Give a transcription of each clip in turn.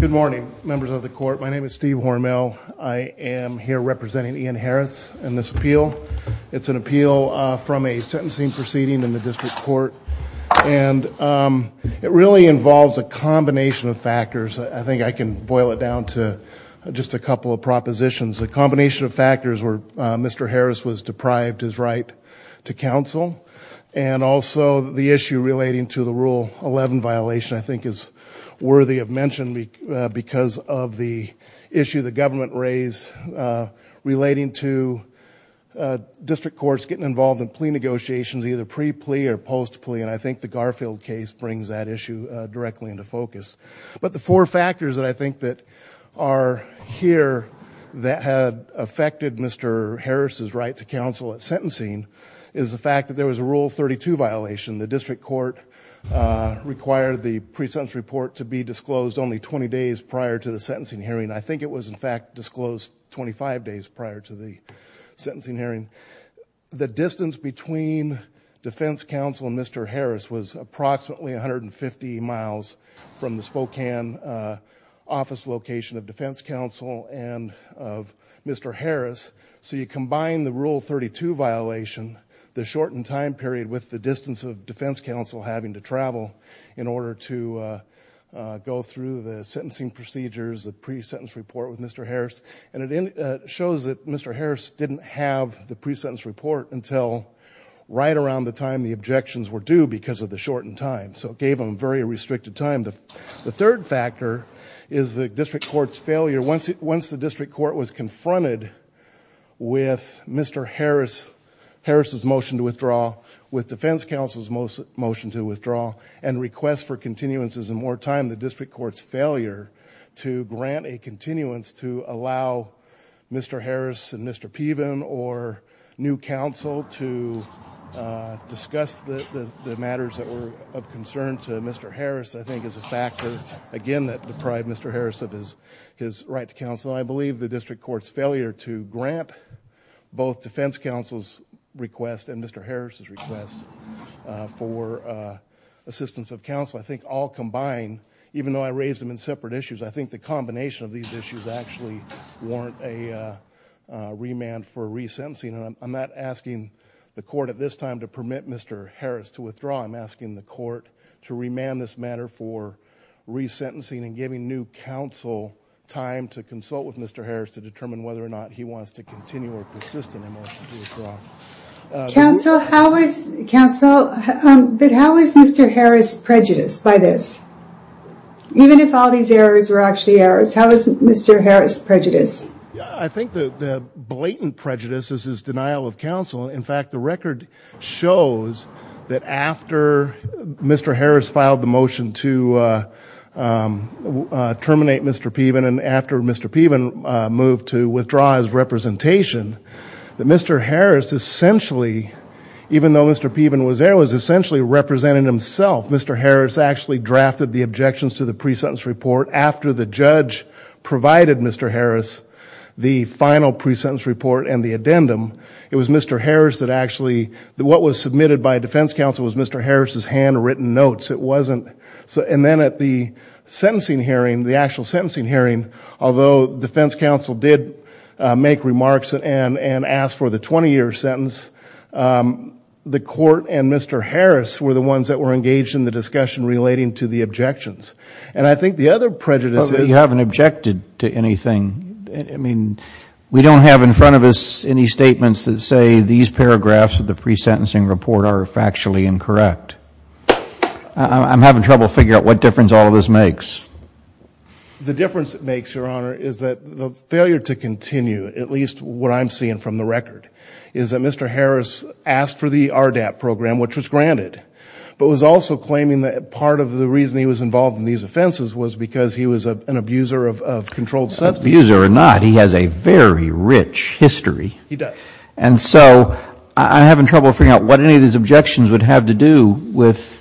Good morning, members of the court. My name is Steve Hormel. I am here representing Ian Harris in this appeal. It's an appeal from a sentencing proceeding in the district court, and it really involves a combination of factors. I think I can boil it down to just a couple of propositions. A combination of factors were Mr. Harris was deprived his right to counsel, and also the issue relating to the Rule 11 violation I think is worthy of mention because of the issue the government raised relating to district courts getting involved in plea negotiations, either pre-plea or post-plea, and I think the Garfield case brings that issue directly into focus. But the four factors that I think that are here that had affected Mr. Harris' right to counsel at sentencing is the fact that there was a Rule 32 violation. The district court required the pre-sentence report to be disclosed only 20 days prior to the sentencing hearing. I think it was in fact disclosed 25 days prior to the sentencing hearing. The distance between defense counsel and Mr. Harris was approximately 150 miles from the Spokane office location of defense counsel and of Mr. Harris. So you combine the Rule 32 violation, the shortened time period, with the distance of defense counsel having to travel in order to go through the sentencing procedures, the pre-sentence report with Mr. Harris, and it shows that Mr. Harris didn't have the pre-sentence report until right around the time the objections were due because of the shortened time. So it gave him very restricted time. The third factor is the district court's failure. Once the district court was confronted with Mr. Harris' motion to withdraw, with defense counsel's motion to withdraw, and request for continuances and more time, the district court's failure to grant a continuance to allow Mr. Harris and Mr. Peven or new counsel to discuss the matters that were of concern to Mr. Harris I think is a factor, again, that deprived Mr. Harris of his right to counsel. I believe the district court's failure to grant both defense counsel's request and Mr. Harris' request for assistance of counsel, I think all combined, even though I raised them in separate issues, I think the combination of these issues actually warrant a remand for resentencing. I'm not asking the court at this time to permit Mr. Harris to withdraw. I'm asking the court to remand this matter for resentencing and giving new counsel time to consult with Mr. Harris to determine whether or not he wants to continue or persist in a motion to withdraw. Counsel, how is Mr. Harris prejudiced by this? Even if all these errors were actually errors, how is Mr. Harris prejudiced? I think the blatant prejudice is his denial of counsel. In fact, the record shows that after Mr. Harris filed the motion to terminate Mr. Peven and after Mr. Peven moved to withdraw his representation, that Mr. Harris essentially, even though Mr. Peven was there, was essentially representing himself. Mr. Harris actually drafted the objections to the pre-sentence report after the judge provided Mr. Harris the final pre-sentence report and the addendum. It was Mr. Harris that actually, what was submitted by defense counsel was Mr. Harris' handwritten notes. It wasn't, and then at the sentencing hearing, the actual sentencing hearing, although defense counsel did make remarks and ask for the 20-year sentence, the court and Mr. Harris were the ones that were engaged in the discussion relating to the objections. And I think the other prejudice is... You haven't objected to anything. I mean, we don't have in front of us any statements that say these paragraphs of the pre-sentencing report are factually incorrect. I'm having trouble figuring out what difference all of this makes. The difference it makes, Your Honor, is that the failure to continue, at least what I'm seeing from the record, is that Mr. Harris asked for the RDAP program, which was granted, but was also claiming that part of the reason he was involved in these offenses was because he was an abuser of controlled substance. Abuser or not, he has a very rich history. He does. And so I'm having trouble figuring out what any of these objections would have to do with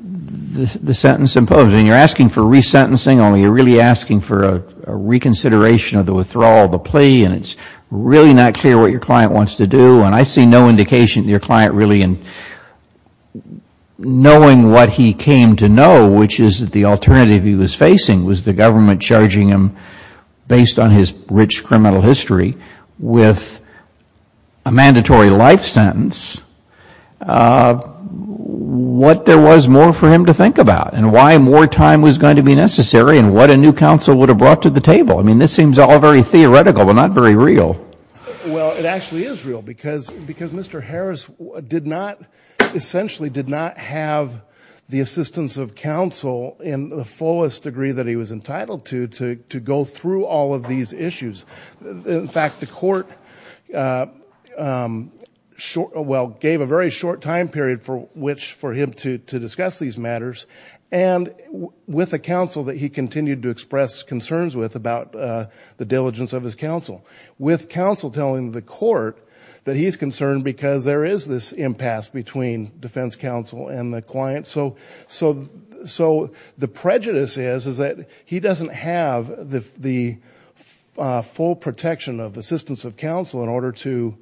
the sentence imposed. I mean, you're asking for resentencing, only you're really asking for a reconsideration of the withdrawal, the plea, and it's really not clear what your client wants to do. And I see no indication that your client really, in knowing what he came to know, which is that the alternative he was facing was the government charging him, based on his rich criminal history, with a mandatory life sentence, what there was more for him to think about and why more time was going to be necessary and what a new counsel would have brought to the table. I mean, this seems all very theoretical, but not very real. Well, it actually is real because Mr. Harris did not, essentially, did not have the assistance of counsel in the fullest degree that he was entitled to to go through all of these issues. In fact, the court gave a very short time period for him to discuss these matters and with a counsel that he continued to express concerns with about the diligence of his counsel. With counsel telling the court that he's concerned because there is this impasse between defense counsel and the client. So the prejudice is that he doesn't have the full protection of assistance of counsel in order to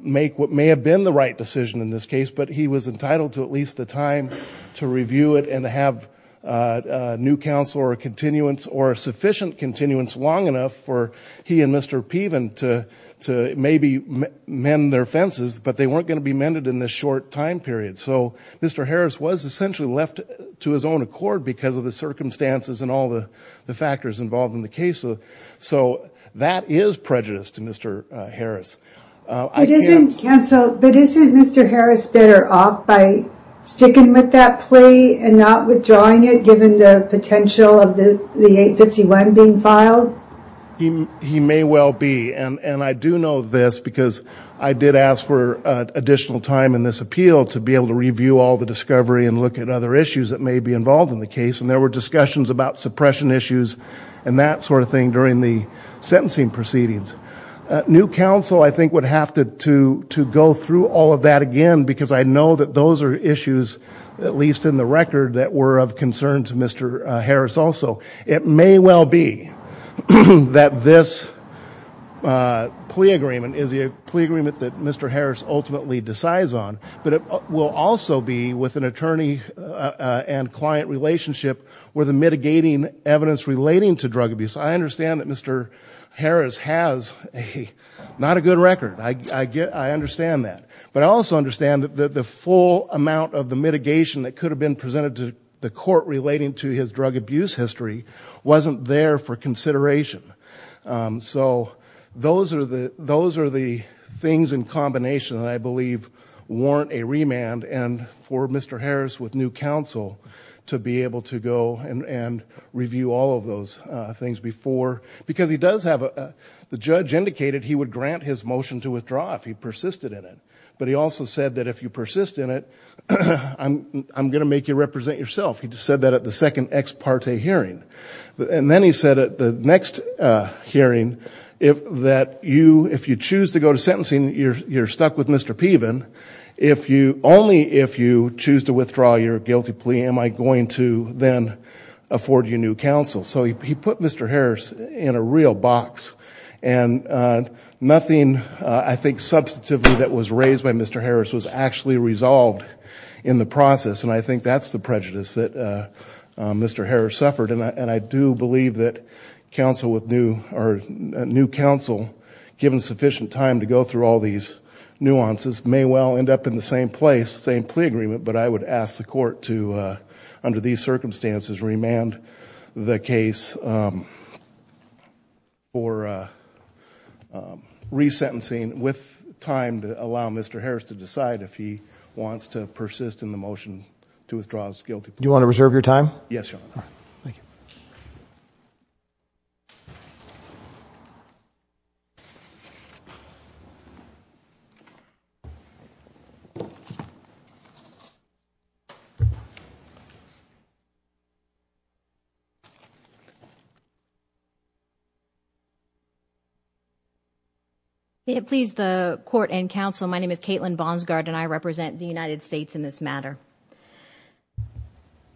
make what may have been the right decision in this case, but he was entitled to at least the time to review it and to have a new counsel or a continuance or a sufficient continuance long enough for he and Mr. Piven to maybe mend their fences, but they weren't going to be mended in this short time period. So Mr. Harris was essentially left to his own accord because of the circumstances and all the factors involved in the case. So that is prejudice to Mr. Harris. But isn't Mr. Harris better off by sticking with that plea and not withdrawing it given the potential of the 851 being filed? He may well be. And I do know this because I did ask for additional time in this appeal to be able to review all the discovery and look at other issues that may be involved in the case. And there were discussions about suppression issues and that sort of thing during the sentencing proceedings. New counsel, I think, would have to go through all of that again because I know that those are issues, at least in the record, that were of concern to Mr. Harris also. It may well be that this plea agreement is a plea agreement that Mr. Harris ultimately decides on, but it will also be with an attorney and client relationship where the mitigating evidence relating to drug abuse. I understand that Mr. Harris has not a good record. I understand that. But I also understand that the full amount of the mitigation that could have been presented to the court relating to his drug abuse history wasn't there for consideration. So those are the things in combination that I believe warrant a remand and for Mr. Harris with new counsel to be able to go and review all of those things before. Because he does have a – the judge indicated he would grant his motion to withdraw if he persisted in it. But he also said that if you persist in it, I'm going to make you represent yourself. He said that at the second ex parte hearing. And then he said at the next hearing that if you choose to go to sentencing, you're stuck with Mr. Peevan. Only if you choose to withdraw your guilty plea am I going to then afford you new counsel. So he put Mr. Harris in a real box. And nothing, I think, substantively that was raised by Mr. Harris was actually resolved in the process. And I think that's the prejudice that Mr. Harris suffered. And I do believe that counsel with new – or new counsel given sufficient time to go through all these nuances may well end up in the same place, same plea agreement. But I would ask the court to, under these circumstances, remand the case for resentencing with time to allow Mr. Harris to decide if he wants to persist in the motion to withdraw his guilty plea. Do you want to reserve your time? Yes, Your Honor. Thank you. Thank you. Please, the court and counsel, my name is Caitlin Bonsgard, and I represent the United States in this matter.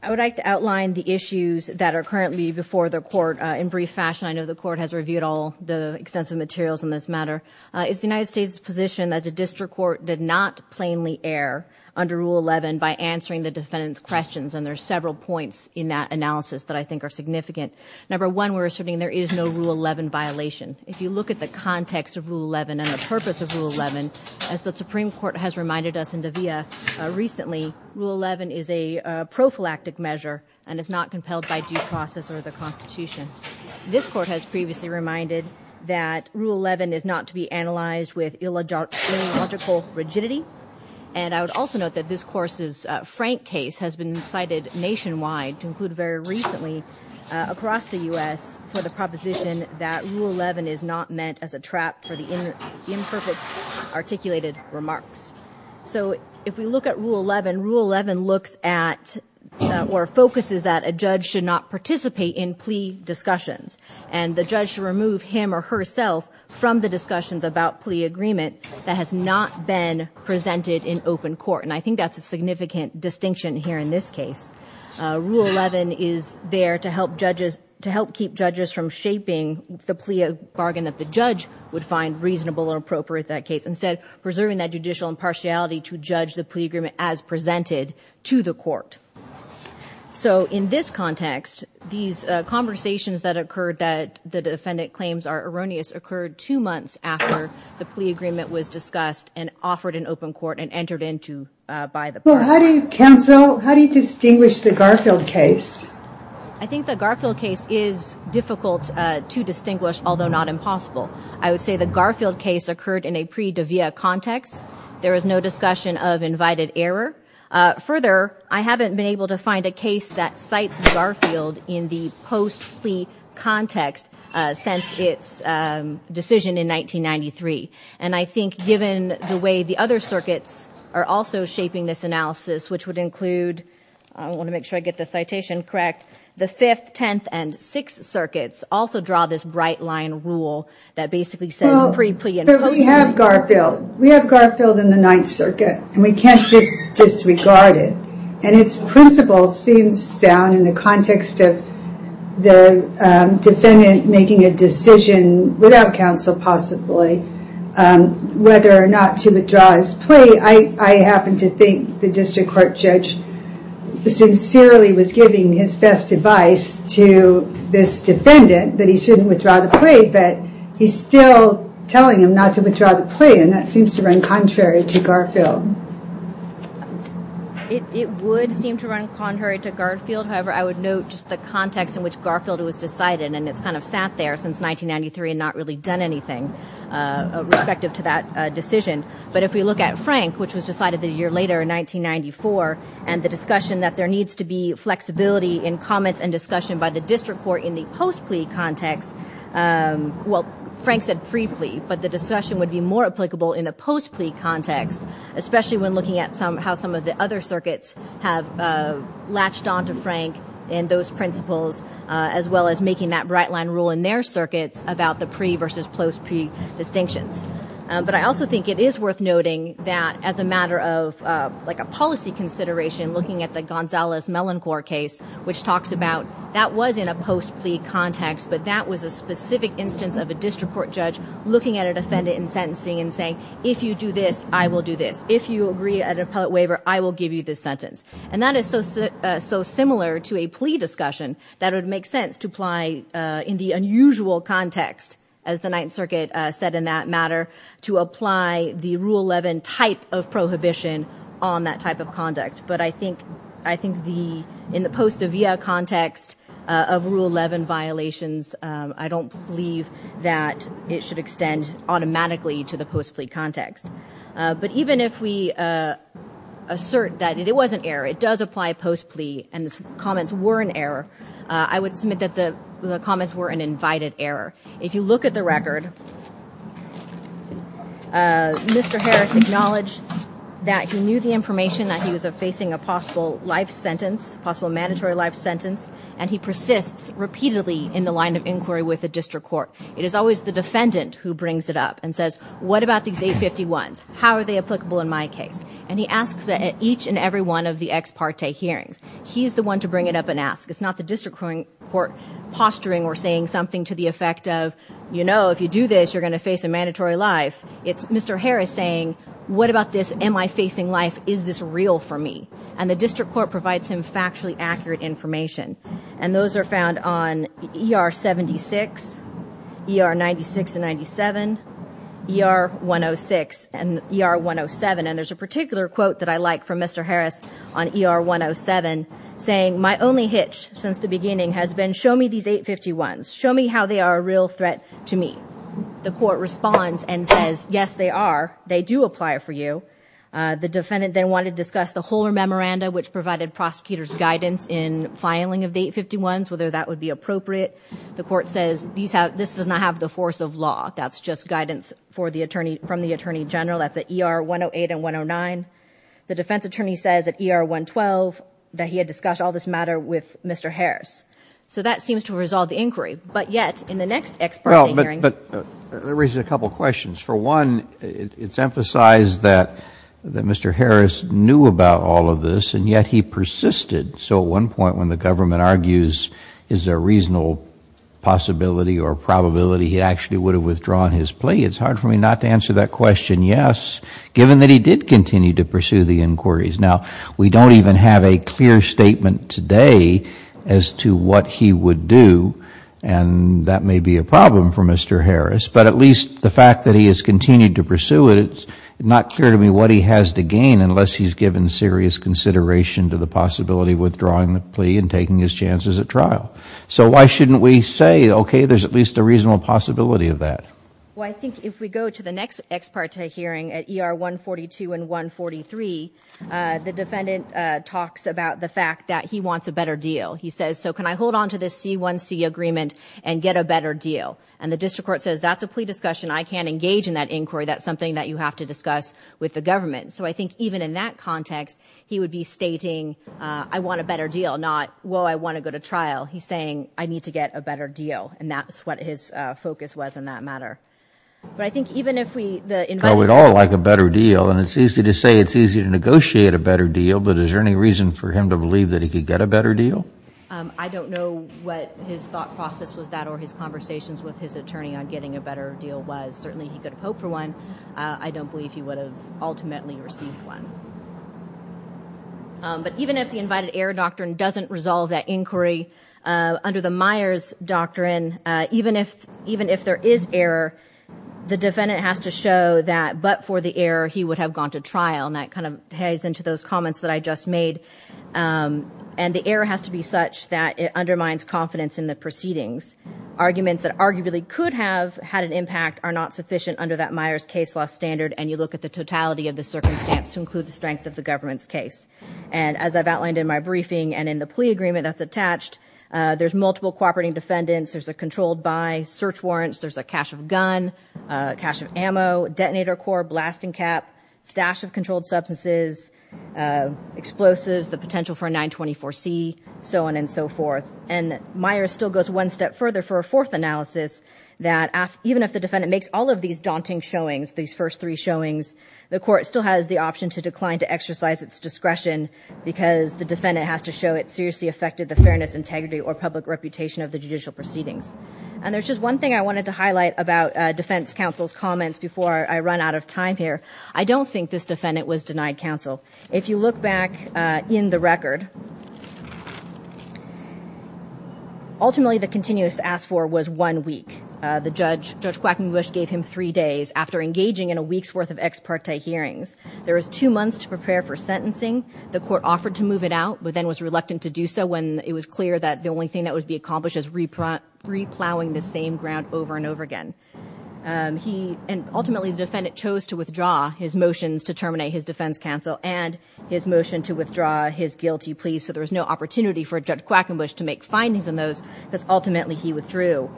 I would like to outline the issues that are currently before the court in brief fashion. I know the court has reviewed all the extensive materials in this matter. It's the United States' position that the district court did not plainly err under Rule 11 by answering the defendant's questions. And there are several points in that analysis that I think are significant. Number one, we're asserting there is no Rule 11 violation. If you look at the context of Rule 11 and the purpose of Rule 11, as the Supreme Court has reminded us in De Villa recently, Rule 11 is a prophylactic measure and is not compelled by due process or the Constitution. This court has previously reminded that Rule 11 is not to be analyzed with illogical rigidity. And I would also note that this court's Frank case has been cited nationwide, to include very recently across the U.S., for the proposition that Rule 11 is not meant as a trap for the imperfect articulated remarks. So if we look at Rule 11, Rule 11 looks at or focuses that a judge should not participate in plea discussions. And the judge should remove him or herself from the discussions about plea agreement that has not been presented in open court. And I think that's a significant distinction here in this case. Rule 11 is there to help keep judges from shaping the plea bargain that the judge would find reasonable or appropriate in that case, instead preserving that judicial impartiality to judge the plea agreement as presented to the court. So in this context, these conversations that occurred that the defendant claims are erroneous occurred two months after the plea agreement was discussed and offered in open court and entered into by the court. Well, how do you cancel, how do you distinguish the Garfield case? I think the Garfield case is difficult to distinguish, although not impossible. I would say the Garfield case occurred in a pre-de via context. There was no discussion of invited error. Further, I haven't been able to find a case that cites Garfield in the post plea context since its decision in 1993. And I think given the way the other circuits are also shaping this analysis, which would include, I want to make sure I get the citation correct, the 5th, 10th, and 6th circuits also draw this bright line rule that basically says pre-plea. We have Garfield. We have Garfield in the 9th circuit. And we can't just disregard it. And its principle seems sound in the context of the defendant making a decision, without counsel possibly, whether or not to withdraw his plea. I happen to think the district court judge sincerely was giving his best advice to this defendant that he shouldn't withdraw the plea, but he's still telling him not to withdraw the plea. And that seems to run contrary to Garfield. It would seem to run contrary to Garfield. However, I would note just the context in which Garfield was decided. And it's kind of sat there since 1993 and not really done anything respective to that decision. But if we look at Frank, which was decided a year later in 1994, and the discussion that there needs to be flexibility in comments and discussion by the district court in the post-plea context, well, Frank said pre-plea, but the discussion would be more applicable in the post-plea context, especially when looking at how some of the other circuits have latched on to Frank and those principles, as well as making that bright line rule in their circuits about the pre- versus post-plea distinctions. But I also think it is worth noting that as a matter of like a policy consideration, looking at the Gonzalez-Melancor case, which talks about that was in a post-plea context, but that was a specific instance of a district court judge looking at a defendant in sentencing and saying, if you do this, I will do this. If you agree at an appellate waiver, I will give you this sentence. And that is so similar to a plea discussion that it would make sense to apply in the unusual context, as the Ninth Circuit said in that matter, to apply the Rule 11 type of prohibition on that type of conduct. But I think in the post-avia context of Rule 11 violations, I don't believe that it should extend automatically to the post-plea context. But even if we assert that it was an error, it does apply post-plea, and the comments were an error, I would submit that the comments were an invited error. If you look at the record, Mr. Harris acknowledged that he knew the information, that he was facing a possible life sentence, possible mandatory life sentence, and he persists repeatedly in the line of inquiry with the district court. It is always the defendant who brings it up and says, what about these 851s? How are they applicable in my case? And he asks that at each and every one of the ex parte hearings. He's the one to bring it up and ask. It's not the district court posturing or saying something to the effect of, you know, if you do this, you're going to face a mandatory life. It's Mr. Harris saying, what about this? Am I facing life? Is this real for me? And the district court provides him factually accurate information. And those are found on ER-76, ER-96 and 97, ER-106, and ER-107. And there's a particular quote that I like from Mr. Harris on ER-107 saying, my only hitch since the beginning has been, show me these 851s. Show me how they are a real threat to me. The court responds and says, yes, they are. They do apply for you. The defendant then wanted to discuss the Hohler Memoranda, which provided prosecutors guidance in filing of the 851s, whether that would be appropriate. The court says this does not have the force of law. That's just guidance from the attorney general. That's at ER-108 and 109. The defense attorney says at ER-112 that he had discussed all this matter with Mr. Harris. So that seems to resolve the inquiry. But yet, in the next ex parte hearing. Well, but that raises a couple questions. For one, it's emphasized that Mr. Harris knew about all of this and yet he persisted. So at one point when the government argues is there a reasonable possibility or probability he actually would have withdrawn his plea, it's hard for me not to answer that question, yes, given that he did continue to pursue the inquiries. Now, we don't even have a clear statement today as to what he would do, and that may be a problem for Mr. Harris. But at least the fact that he has continued to pursue it, it's not clear to me what he has to gain unless he's given serious consideration to the possibility of withdrawing the plea and taking his chances at trial. So why shouldn't we say, okay, there's at least a reasonable possibility of that? Well, I think if we go to the next ex parte hearing at ER-142 and 143, the defendant talks about the fact that he wants a better deal. He says, so can I hold on to this C1C agreement and get a better deal? And the district court says that's a plea discussion. I can't engage in that inquiry. That's something that you have to discuss with the government. So I think even in that context, he would be stating, I want a better deal, not, well, I want to go to trial. He's saying, I need to get a better deal, and that's what his focus was in that matter. But I think even if we – Well, we'd all like a better deal. And it's easy to say it's easy to negotiate a better deal, but is there any reason for him to believe that he could get a better deal? I don't know what his thought process was that or his conversations with his attorney on getting a better deal was. Certainly he could have hoped for one. I don't believe he would have ultimately received one. But even if the invited error doctrine doesn't resolve that inquiry, under the Myers doctrine, even if there is error, the defendant has to show that but for the error he would have gone to trial, and that kind of ties into those comments that I just made. And the error has to be such that it undermines confidence in the proceedings. Arguments that arguably could have had an impact are not sufficient under that Myers case law standard, and you look at the totality of the circumstance to include the strength of the government's case. And as I've outlined in my briefing and in the plea agreement that's attached, there's multiple cooperating defendants. There's a controlled by, search warrants. There's a cache of gun, cache of ammo, detonator core, blasting cap, stash of controlled substances, explosives, the potential for a 924C, so on and so forth. And Myers still goes one step further for a fourth analysis that even if the defendant makes all of these daunting showings, these first three showings, the court still has the option to decline to exercise its discretion because the defendant has to show it seriously affected the fairness, integrity, or public reputation of the judicial proceedings. And there's just one thing I wanted to highlight about defense counsel's comments before I run out of time here. I don't think this defendant was denied counsel. If you look back in the record, ultimately the continuous ask for was one week. Judge Quackenbush gave him three days after engaging in a week's worth of ex parte hearings. There was two months to prepare for sentencing. The court offered to move it out but then was reluctant to do so when it was clear that the only thing that would be accomplished is replowing the same ground over and over again. And ultimately the defendant chose to withdraw his motions to terminate his defense counsel and his motion to withdraw his guilty plea so there was no opportunity for Judge Quackenbush to make findings on those because ultimately he withdrew.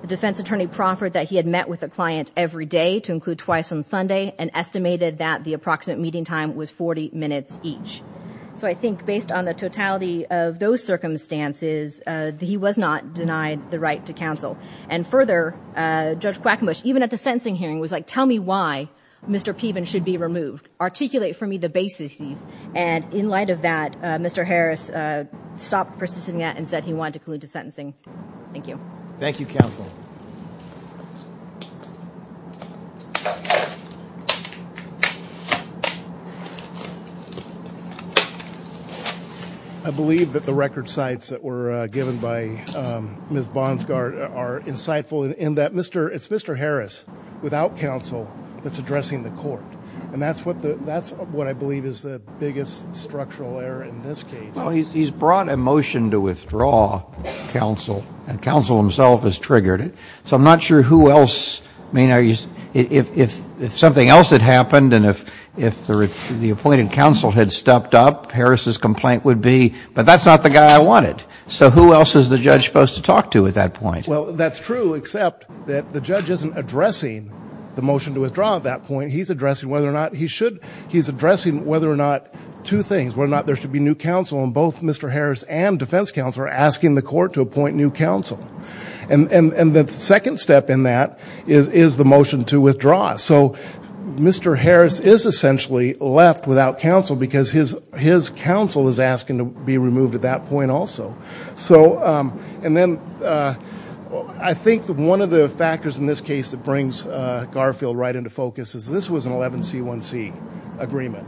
The defense attorney proffered that he had met with a client every day to include twice on Sunday and estimated that the approximate meeting time was 40 minutes each. So I think based on the totality of those circumstances, he was not denied the right to counsel. And further, Judge Quackenbush, even at the sentencing hearing, was like, tell me why Mr. Peeben should be removed. Articulate for me the basis of these. And in light of that, Mr. Harris stopped persisting at it and said he wanted to collude to sentencing. Thank you. Thank you, Counsel. I believe that the record sites that were given by Ms. Bonsgaard are insightful in that it's Mr. Harris, without counsel, that's addressing the court. And that's what I believe is the biggest structural error in this case. Well, he's brought a motion to withdraw counsel and counsel himself has triggered it. So I'm not sure who else. If something else had happened and if the appointed counsel had stepped up, Harris's complaint would be, but that's not the guy I wanted. So who else is the judge supposed to talk to at that point? Well, that's true, except that the judge isn't addressing the motion to withdraw at that point. He's addressing whether or not he should. He's addressing whether or not two things, whether or not there should be new counsel, and both Mr. Harris and defense counsel are asking the court to appoint new counsel. And the second step in that is the motion to withdraw. So Mr. Harris is essentially left without counsel because his counsel is asking to be removed at that point also. And then I think one of the factors in this case that brings Garfield right into focus is this was an 11C1C agreement.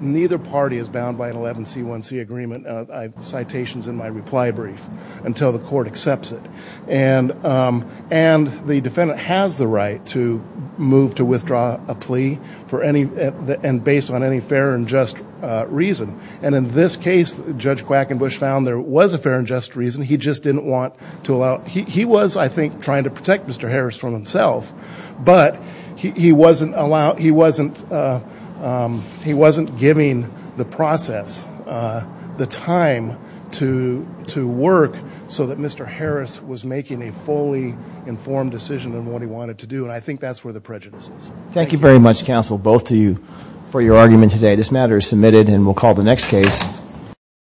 Neither party is bound by an 11C1C agreement, citations in my reply brief, until the court accepts it. And the defendant has the right to move to withdraw a plea and based on any fair and just reason. And in this case, Judge Quackenbush found there was a fair and just reason. He just didn't want to allow it. He was, I think, trying to protect Mr. Harris from himself, but he wasn't giving the process the time to work so that Mr. Harris was making a fully informed decision on what he wanted to do, and I think that's where the prejudice is. Thank you very much, counsel, both to you for your argument today.